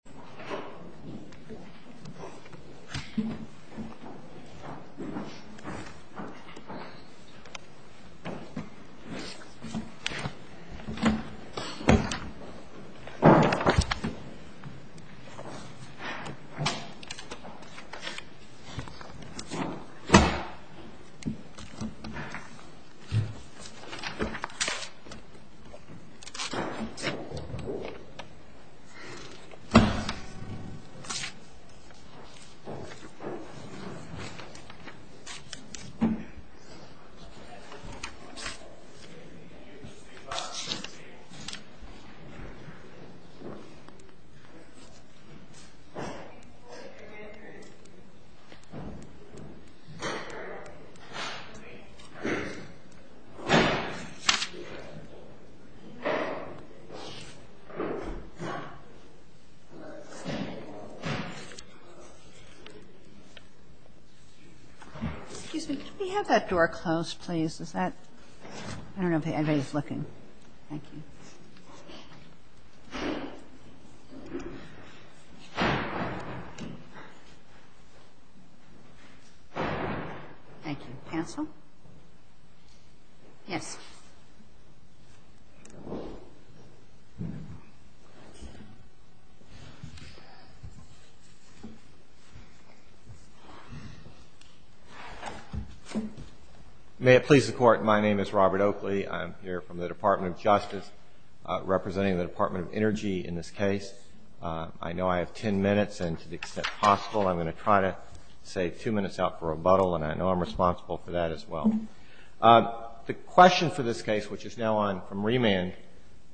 Okay a very, very funny conversation I have been having with friends and family in politics מכynı Okay a very, very funny conversation I have been having with friends and family in politics Okay a very, very funny conversation I have been having with friends and family in politics May it please the court, my name is Robert Oakley. I'm here from the Department of Justice, representing the Department of Energy in this case. I know I have 10 minutes and to the extent possible I'm going to try to save 2 minutes out for rebuttal and I know I'm responsible for that as well. The question for this case, which is now on from remand,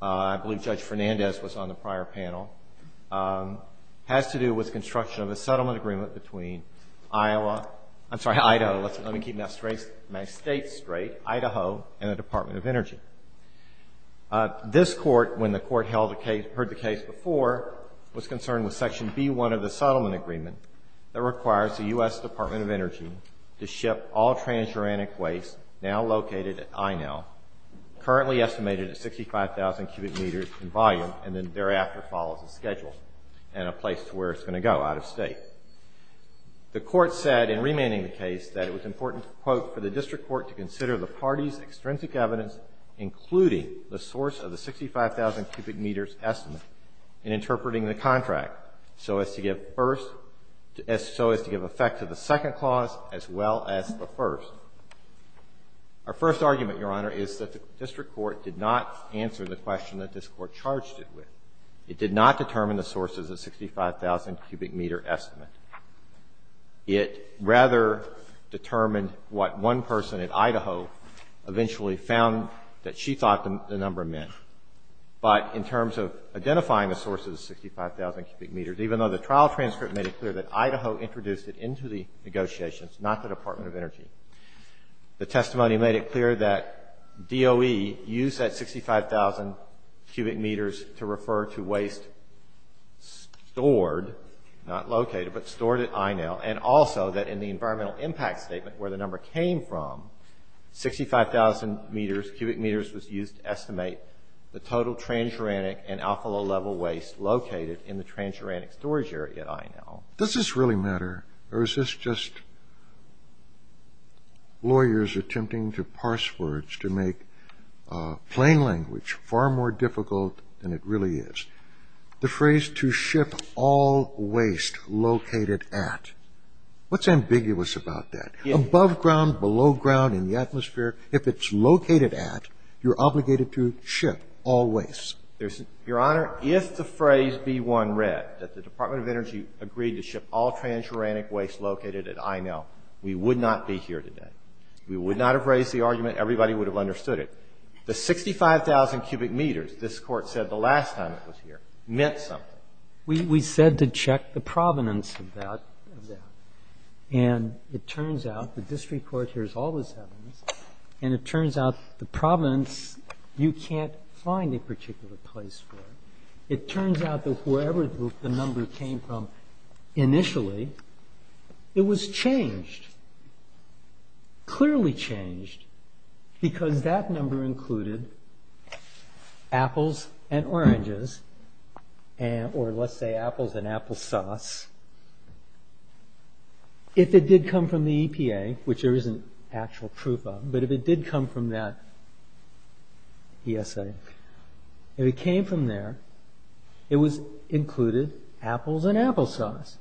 I believe Judge Fernandez was on the prior panel, has to do with construction of a settlement agreement between Idaho and the Department of Energy. This court, when the court heard the case before, was concerned with section B-1 of the settlement agreement that requires the U.S. Department of Energy to ship all transuranic waste now located at Inel, currently estimated at 65,000 cubic meters in volume and then thereafter follows a schedule and a place to where it's going to go out of state. The court said in remanding the case that it was important, quote, for the district court to consider the party's extrinsic evidence including the source of the 65,000 cubic meters estimate in interpreting the contract so as to give effect to the second clause as well as the first. Our first argument, Your Honor, is that the district court did not answer the question that this court charged it with. It did not determine the source of the 65,000 cubic meter estimate. It rather determined what one person in Idaho eventually found that she thought the number meant. But in terms of identifying the source of the 65,000 cubic meters, even though the trial transcript made it clear that Idaho introduced it into the negotiations, not the Department of Energy, the testimony made it clear that DOE used that 65,000 cubic meters to refer to waste stored, not located, but stored at Inel, and also that in the environmental impact statement where the number came from, 65,000 cubic meters was used to estimate the source of the 65,000 cubic meters. The total transuranic and alcalo level waste located in the transuranic storage area at Inel. Does this really matter, or is this just lawyers attempting to parse words to make plain language far more difficult than it really is? The phrase to ship all waste located at. What's ambiguous about that? Above ground, below ground, in the atmosphere, if it's located at, you're obligated to ship all waste. Your Honor, if the phrase B1 read that the Department of Energy agreed to ship all transuranic waste located at Inel, we would not be here today. We would not have raised the argument. Everybody would have understood it. The 65,000 cubic meters, this Court said the last time it was here, meant something. We said to check the provenance of that. And it turns out the district court hears all this evidence, and it turns out the provenance, you can't find a particular place for it. It turns out that wherever the number came from initially, it was changed. Clearly changed, because that number included apples and oranges, or let's say apples and applesauce. If it did come from the EPA, which there isn't actual proof of, but if it did come from that ESA, if it came from there, it was included apples and applesauce.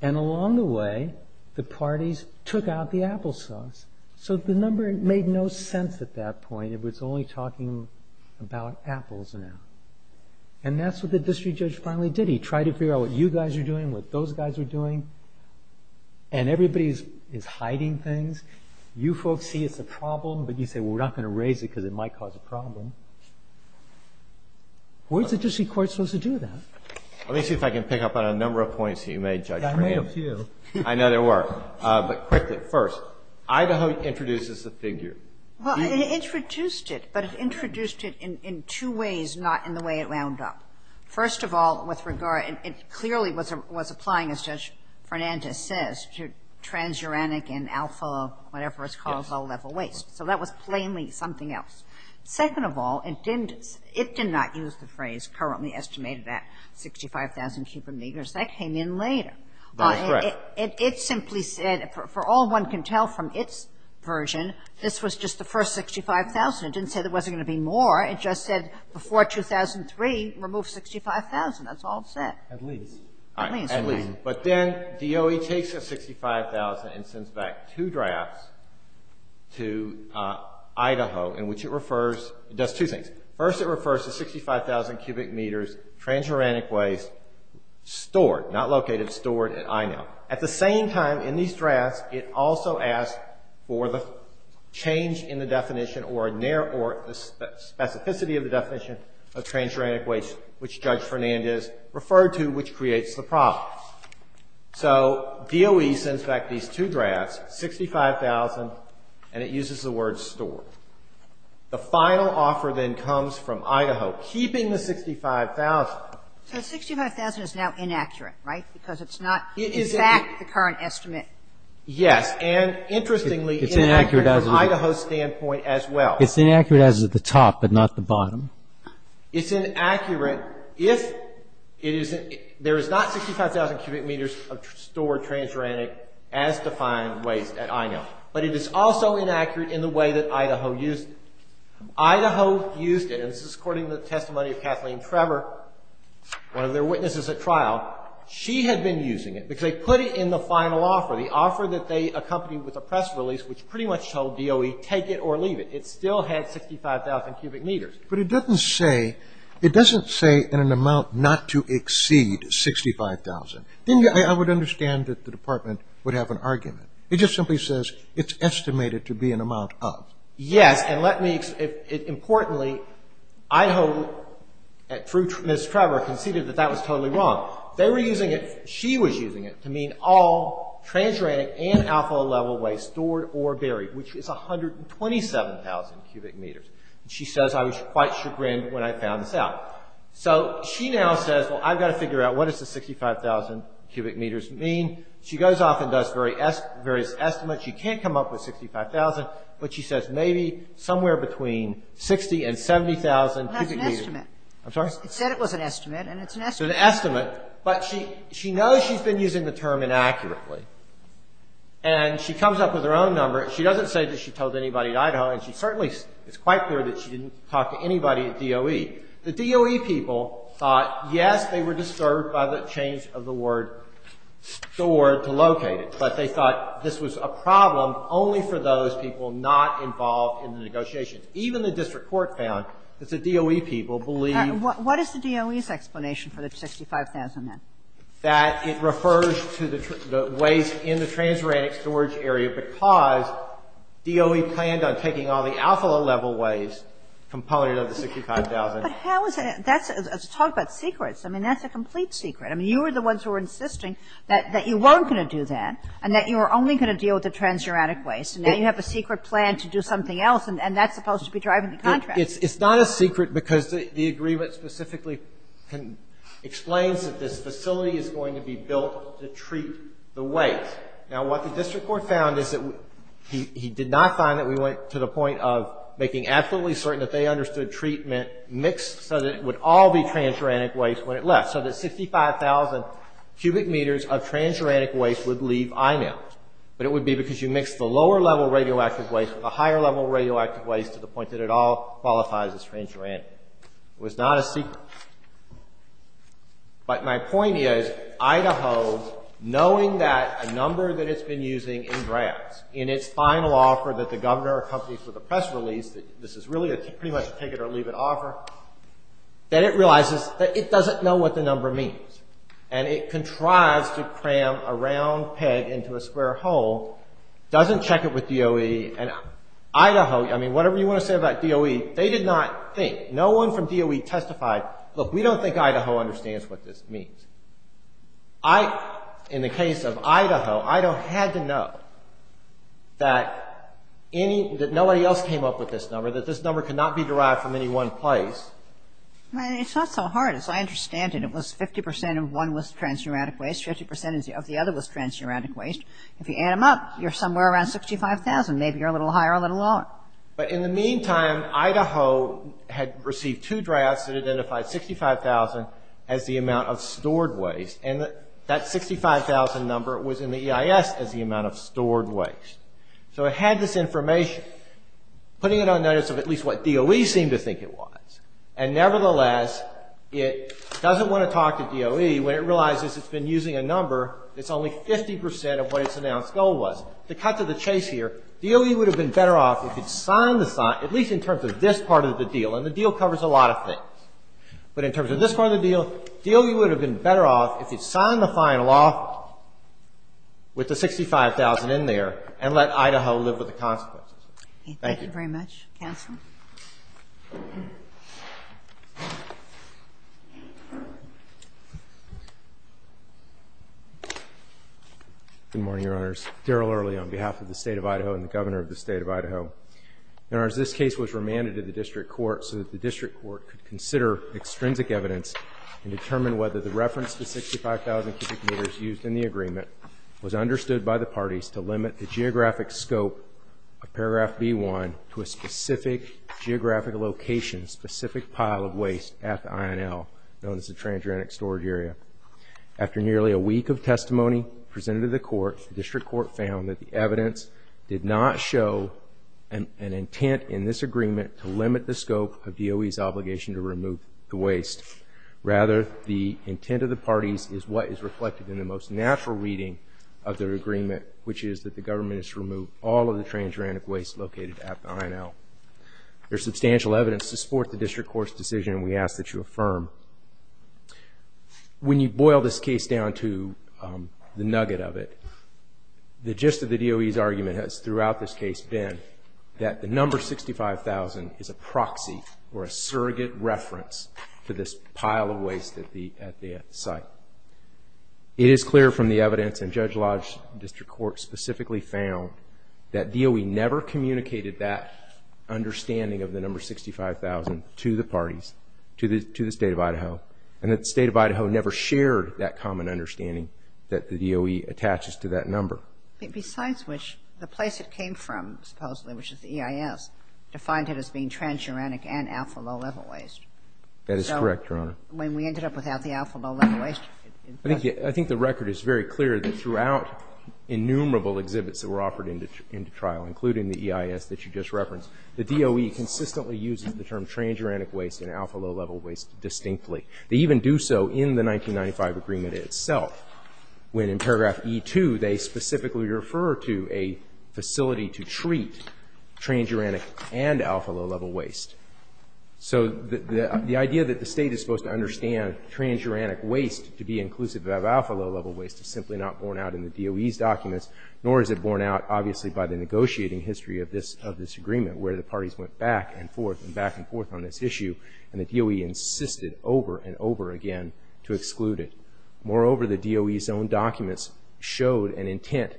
And along the way, the parties took out the applesauce. So the number made no sense at that point. It was only talking about apples now. And that's what the district judge finally did. He tried to figure out what you guys are doing, what those guys are doing, and everybody is hiding things. You folks see it's a problem, but you say, well, we're not going to raise it because it might cause a problem. Where's the district court supposed to do that? Let me see if I can pick up on a number of points that you made, Judge. I made a few. I know there were. But quickly, first, Idaho introduces the figure. Well, it introduced it, but it introduced it in two ways, not in the way it wound up. First of all, with regard, it clearly was applying, as Judge Fernandez says, to transuranic and alpha, whatever it's called, level waste. So that was plainly something else. Second of all, it did not use the phrase currently estimated at 65,000 cubic meters. That came in later. That's correct. It simply said, for all one can tell from its version, this was just the first 65,000. It didn't say there wasn't going to be more. It just said before 2003, remove 65,000. That's all it said. At least. At least, right. But then DOE takes the 65,000 and sends back two drafts to Idaho, in which it refers, it does two things. First, it refers to 65,000 cubic meters transuranic waste stored, not located, stored at INO. At the same time, in these drafts, it also asks for the change in the definition or the specificity of the definition of transuranic waste, which Judge Fernandez referred to, which creates the problem. So DOE sends back these two drafts, 65,000, and it uses the word stored. The final offer then comes from Idaho, keeping the 65,000. So 65,000 is now inaccurate, right, because it's not in fact the current estimate? Yes. And interestingly, it's inaccurate from Idaho's standpoint as well. It's inaccurate as at the top, but not the bottom. It's inaccurate if there is not 65,000 cubic meters of stored transuranic as defined waste at INO. But it is also inaccurate in the way that Idaho used it. Idaho used it, and this is according to the testimony of Kathleen Trevor, one of their witnesses at trial. She had been using it because they put it in the final offer, the offer that they accompanied with a press release, which pretty much told DOE take it or leave it. It still had 65,000 cubic meters. But it doesn't say in an amount not to exceed 65,000. I would understand that the department would have an argument. It just simply says it's estimated to be an amount of. Yes, and let me – importantly, Idaho, through Ms. Trevor, conceded that that was totally wrong. They were using it – she was using it to mean all transuranic and alpha-level waste stored or buried, which is 127,000 cubic meters. And she says, I was quite chagrined when I found this out. So she now says, well, I've got to figure out what does the 65,000 cubic meters mean. She goes off and does various estimates. She can't come up with 65,000, but she says maybe somewhere between 60,000 and 70,000 cubic meters. It's not an estimate. I'm sorry? It said it was an estimate, and it's an estimate. It's an estimate, but she knows she's been using the term inaccurately. And she comes up with her own number. She doesn't say that she told anybody in Idaho, and she certainly – it's quite clear that she didn't talk to anybody at DOE. The DOE people thought, yes, they were disturbed by the change of the word stored to located, but they thought this was a problem only for those people not involved in the negotiations. Even the district court found that the DOE people believed – What is the DOE's explanation for the 65,000 then? That it refers to the waste in the transuranic storage area because DOE planned on taking all the alpha level waste component of the 65,000. But how is that – that's – talk about secrets. I mean, that's a complete secret. I mean, you were the ones who were insisting that you weren't going to do that and that you were only going to deal with the transuranic waste, and now you have a secret plan to do something else, and that's supposed to be driving the contract. It's not a secret because the agreement specifically explains that this facility is going to be built to treat the waste. Now, what the district court found is that he did not find that we went to the point of making absolutely certain that they understood treatment mixed so that it would all be transuranic waste when it left, so that 65,000 cubic meters of transuranic waste would leave IMAIL, but it would be because you mixed the lower level radioactive waste with the higher level radioactive waste to the point that it all qualifies as transuranic. It was not a secret. But my point is, Idaho, knowing that a number that it's been using in drafts, in its final offer that the governor accompanies with the press release, that this is really pretty much a take-it-or-leave-it offer, that it realizes that it doesn't know what the number means, and it contrives to cram a round peg into a square hole, doesn't check it with DOE, and Idaho, I mean, whatever you want to say about DOE, they did not think, no one from DOE testified, look, we don't think Idaho understands what this means. In the case of Idaho, Idaho had to know that nobody else came up with this number, that this number could not be derived from any one place. Well, it's not so hard as I understand it. It was 50% of one was transuranic waste, 50% of the other was transuranic waste. If you add them up, you're somewhere around 65,000. Maybe you're a little higher, a little lower. But in the meantime, Idaho had received two drafts that identified 65,000 as the amount of stored waste, and that 65,000 number was in the EIS as the amount of stored waste. So it had this information, putting it on notice of at least what DOE seemed to think it was, and nevertheless, it doesn't want to talk to DOE when it realizes it's been using a number that's only 50% of what its announced goal was. To cut to the chase here, DOE would have been better off if it signed the sign, at least in terms of this part of the deal, and the deal covers a lot of things. But in terms of this part of the deal, DOE would have been better off if it signed the final off with the 65,000 in there and let Idaho live with the consequences. Thank you. Thank you very much. Counsel. Good morning, Your Honors. Daryl Early on behalf of the State of Idaho and the Governor of the State of Idaho. Your Honors, this case was remanded to the district court so that the district court could consider extrinsic evidence and determine whether the reference to 65,000 cubic meters used in the agreement was understood by the parties to limit the geographic scope of paragraph B1 to a specific geographic location, specific pile of waste at the INL, known as the transuranic storage area. After nearly a week of testimony presented to the court, the district court found that the evidence did not show an intent in this agreement to limit the scope of DOE's obligation to remove the waste. Rather, the intent of the parties is what is reflected in the most natural reading of the agreement, which is that the government has removed all of the transuranic waste located at the INL. There's substantial evidence to support the district court's decision, and we ask that you affirm. When you boil this case down to the nugget of it, the gist of the DOE's argument has throughout this case been that the number 65,000 is a proxy or a surrogate reference to this pile of waste at the site. It is clear from the evidence, and Judge Lodge's district court specifically found, that DOE never communicated that understanding of the number 65,000 to the parties, to the State of Idaho, and that the State of Idaho never shared that common understanding that the DOE attaches to that number. Besides which, the place it came from, supposedly, which is the EIS, defined it as being transuranic and alpha low-level waste. That is correct, Your Honor. When we ended up without the alpha low-level waste. I think the record is very clear that throughout innumerable exhibits that were offered into trial, including the EIS that you just referenced, the DOE consistently uses the term transuranic waste and alpha low-level waste distinctly. They even do so in the 1995 agreement itself, when in paragraph E2, they specifically refer to a facility to treat transuranic and alpha low-level waste. So the idea that the State is supposed to understand transuranic waste to be inclusive of alpha low-level waste is simply not borne out in the DOE's documents, nor is it borne out, obviously, by the negotiating history of this agreement, where the parties went back and forth and back and forth on this issue, and the DOE insisted over and over again to exclude it. Moreover, the DOE's own documents showed an intent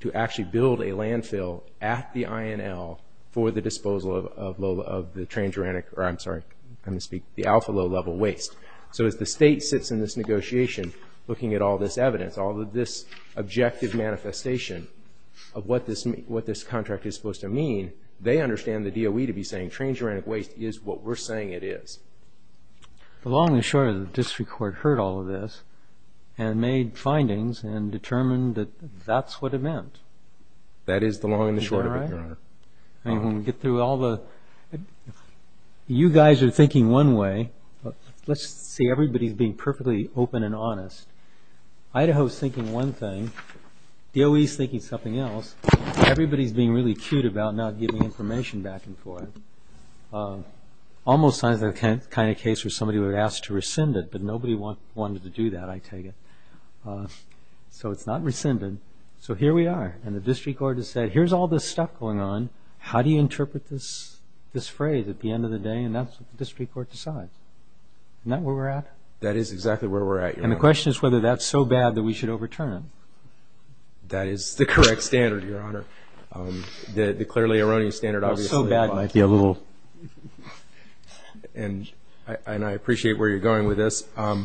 to actually build a landfill at the INL for the disposal of the transuranic, or I'm sorry, I misspeak, the alpha low-level waste. So as the State sits in this negotiation looking at all this evidence, all of this objective manifestation of what this contract is supposed to mean, they understand the DOE to be saying transuranic waste is what we're saying it is. The long and the short of the district court heard all of this and made findings and determined that that's what it meant. That is the long and the short of it, Your Honor. You guys are thinking one way. Let's see everybody's being perfectly open and honest. Idaho's thinking one thing. DOE's thinking something else. Everybody's being really cute about not giving information back and forth. Almost sounds like the kind of case where somebody would have asked to rescind it, but nobody wanted to do that, I take it. So it's not rescinded. So here we are, and the district court has said, here's all this stuff going on. How do you interpret this phrase at the end of the day? And that's what the district court decides. Isn't that where we're at? That is exactly where we're at, Your Honor. And the question is whether that's so bad that we should overturn it. That is the correct standard, Your Honor. The clearly erroneous standard obviously applies. And I appreciate where you're going with this. I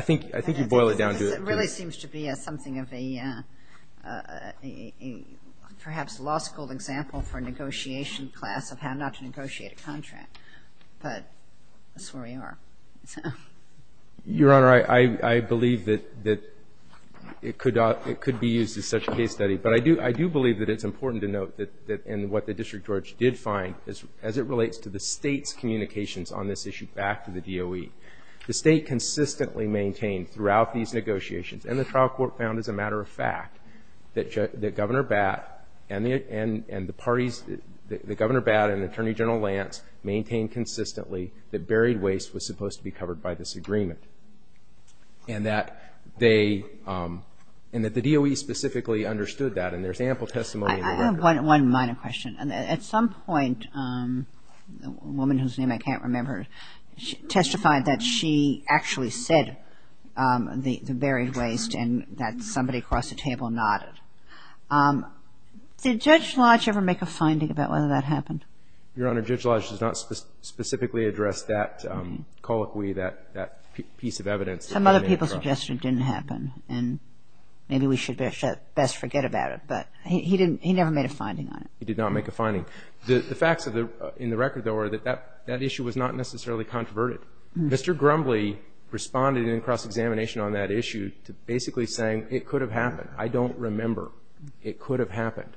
think you boil it down to it. It really seems to be something of a perhaps law school example for a negotiation class of how not to negotiate a contract. But that's where we are. Your Honor, I believe that it could be used as such a case study. But I do believe that it's important to note that in what the district judge did find, as it relates to the State's communications on this issue back to the DOE, the State consistently maintained throughout these negotiations, and the trial court found as a matter of fact, that Governor Batt and the parties, that Governor Batt and Attorney General Lance maintained consistently that buried waste was supposed to be covered by this agreement. And that they, and that the DOE specifically understood that. And there's ample testimony in the record. I have one minor question. At some point, a woman whose name I can't remember testified that she actually said the buried waste and that somebody across the table nodded. Did Judge Lodge ever make a finding about whether that happened? Your Honor, Judge Lodge does not specifically address that colloquy, that piece of evidence. Some other people suggested it didn't happen. And maybe we should best forget about it. But he didn't, he never made a finding on it. He did not make a finding. The facts in the record, though, are that that issue was not necessarily controverted. Mr. Grumbly responded in cross-examination on that issue to basically saying it could have happened. I don't remember. It could have happened.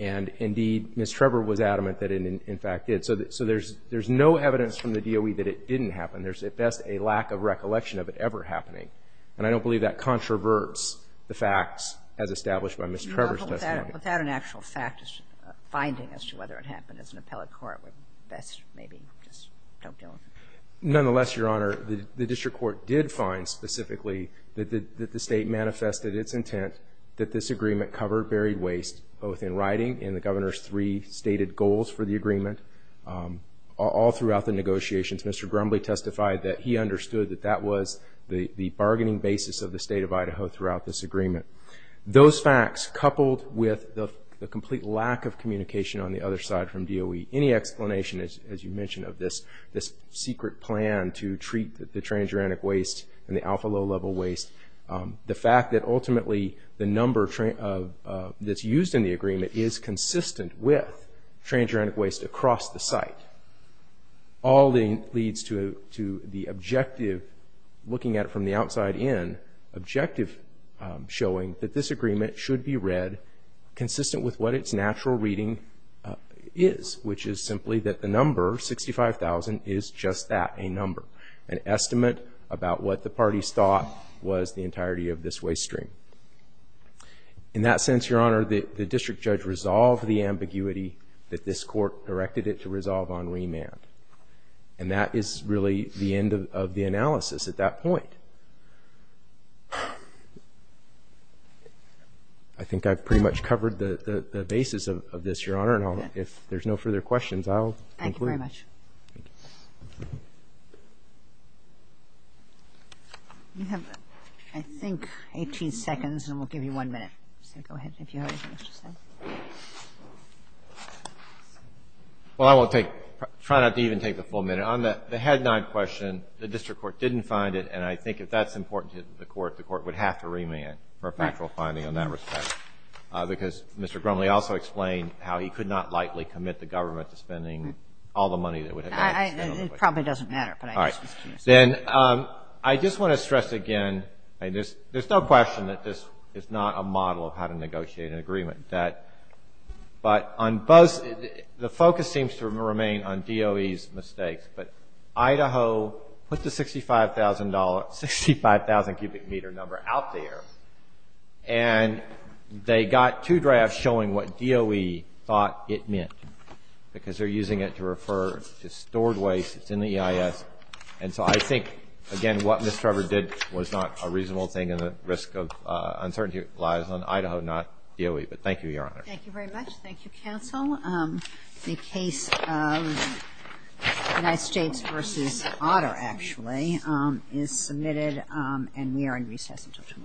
And indeed, Ms. Trevor was adamant that it in fact did. So there's no evidence from the DOE that it didn't happen. There's at best a lack of recollection of it ever happening. Well, without an actual fact finding as to whether it happened as an appellate court, we best maybe just don't deal with it. Nonetheless, Your Honor, the district court did find specifically that the State manifested its intent that this agreement cover buried waste, both in writing and the Governor's three stated goals for the agreement, all throughout the negotiations. Mr. Grumbly testified that he understood that that was the bargaining basis of the State of Idaho throughout this agreement. Those facts, coupled with the complete lack of communication on the other side from DOE, any explanation, as you mentioned, of this secret plan to treat the transuranic waste and the alpha-low-level waste, the fact that ultimately the number that's used in the agreement is consistent with transuranic waste across the site, all leads to the objective, looking at it from the outside in, objective showing that this agreement should be read consistent with what its natural reading is, which is simply that the number, 65,000, is just that, a number, an estimate about what the parties thought was the entirety of this waste stream. In that sense, Your Honor, the district judge resolved the ambiguity that this court directed it to resolve on remand. And that is really the end of the analysis at that point. I think I've pretty much covered the basis of this, Your Honor, and if there's no further questions, I'll conclude. Thank you very much. You have, I think, 18 seconds, and we'll give you one minute. So go ahead, if you have anything else to say. Well, I will try not to even take the full minute. On the head nod question, the district court didn't find it, and I think if that's important to the court, the court would have to remand for a factual finding in that respect, because Mr. Grumley also explained how he could not likely commit the government to spending all the money that would have been spent on the waste stream. It probably doesn't matter, but I guess it's true. Then I just want to stress again, there's no question that this is not a model of how to negotiate an agreement, but the focus seems to remain on DOE's mistakes, but Idaho put the $65,000 cubic meter number out there, and they got two drafts showing what DOE thought it meant, because they're using it to refer to stored waste that's in the EIS, and so I think, again, what Ms. Trevor did was not a reasonable thing, and the risk of uncertainty lies on Idaho, not DOE. But thank you, Your Honor. Thank you very much. Thank you, counsel. The case of United States v. Otter, actually, is submitted, and we are in recess until tomorrow.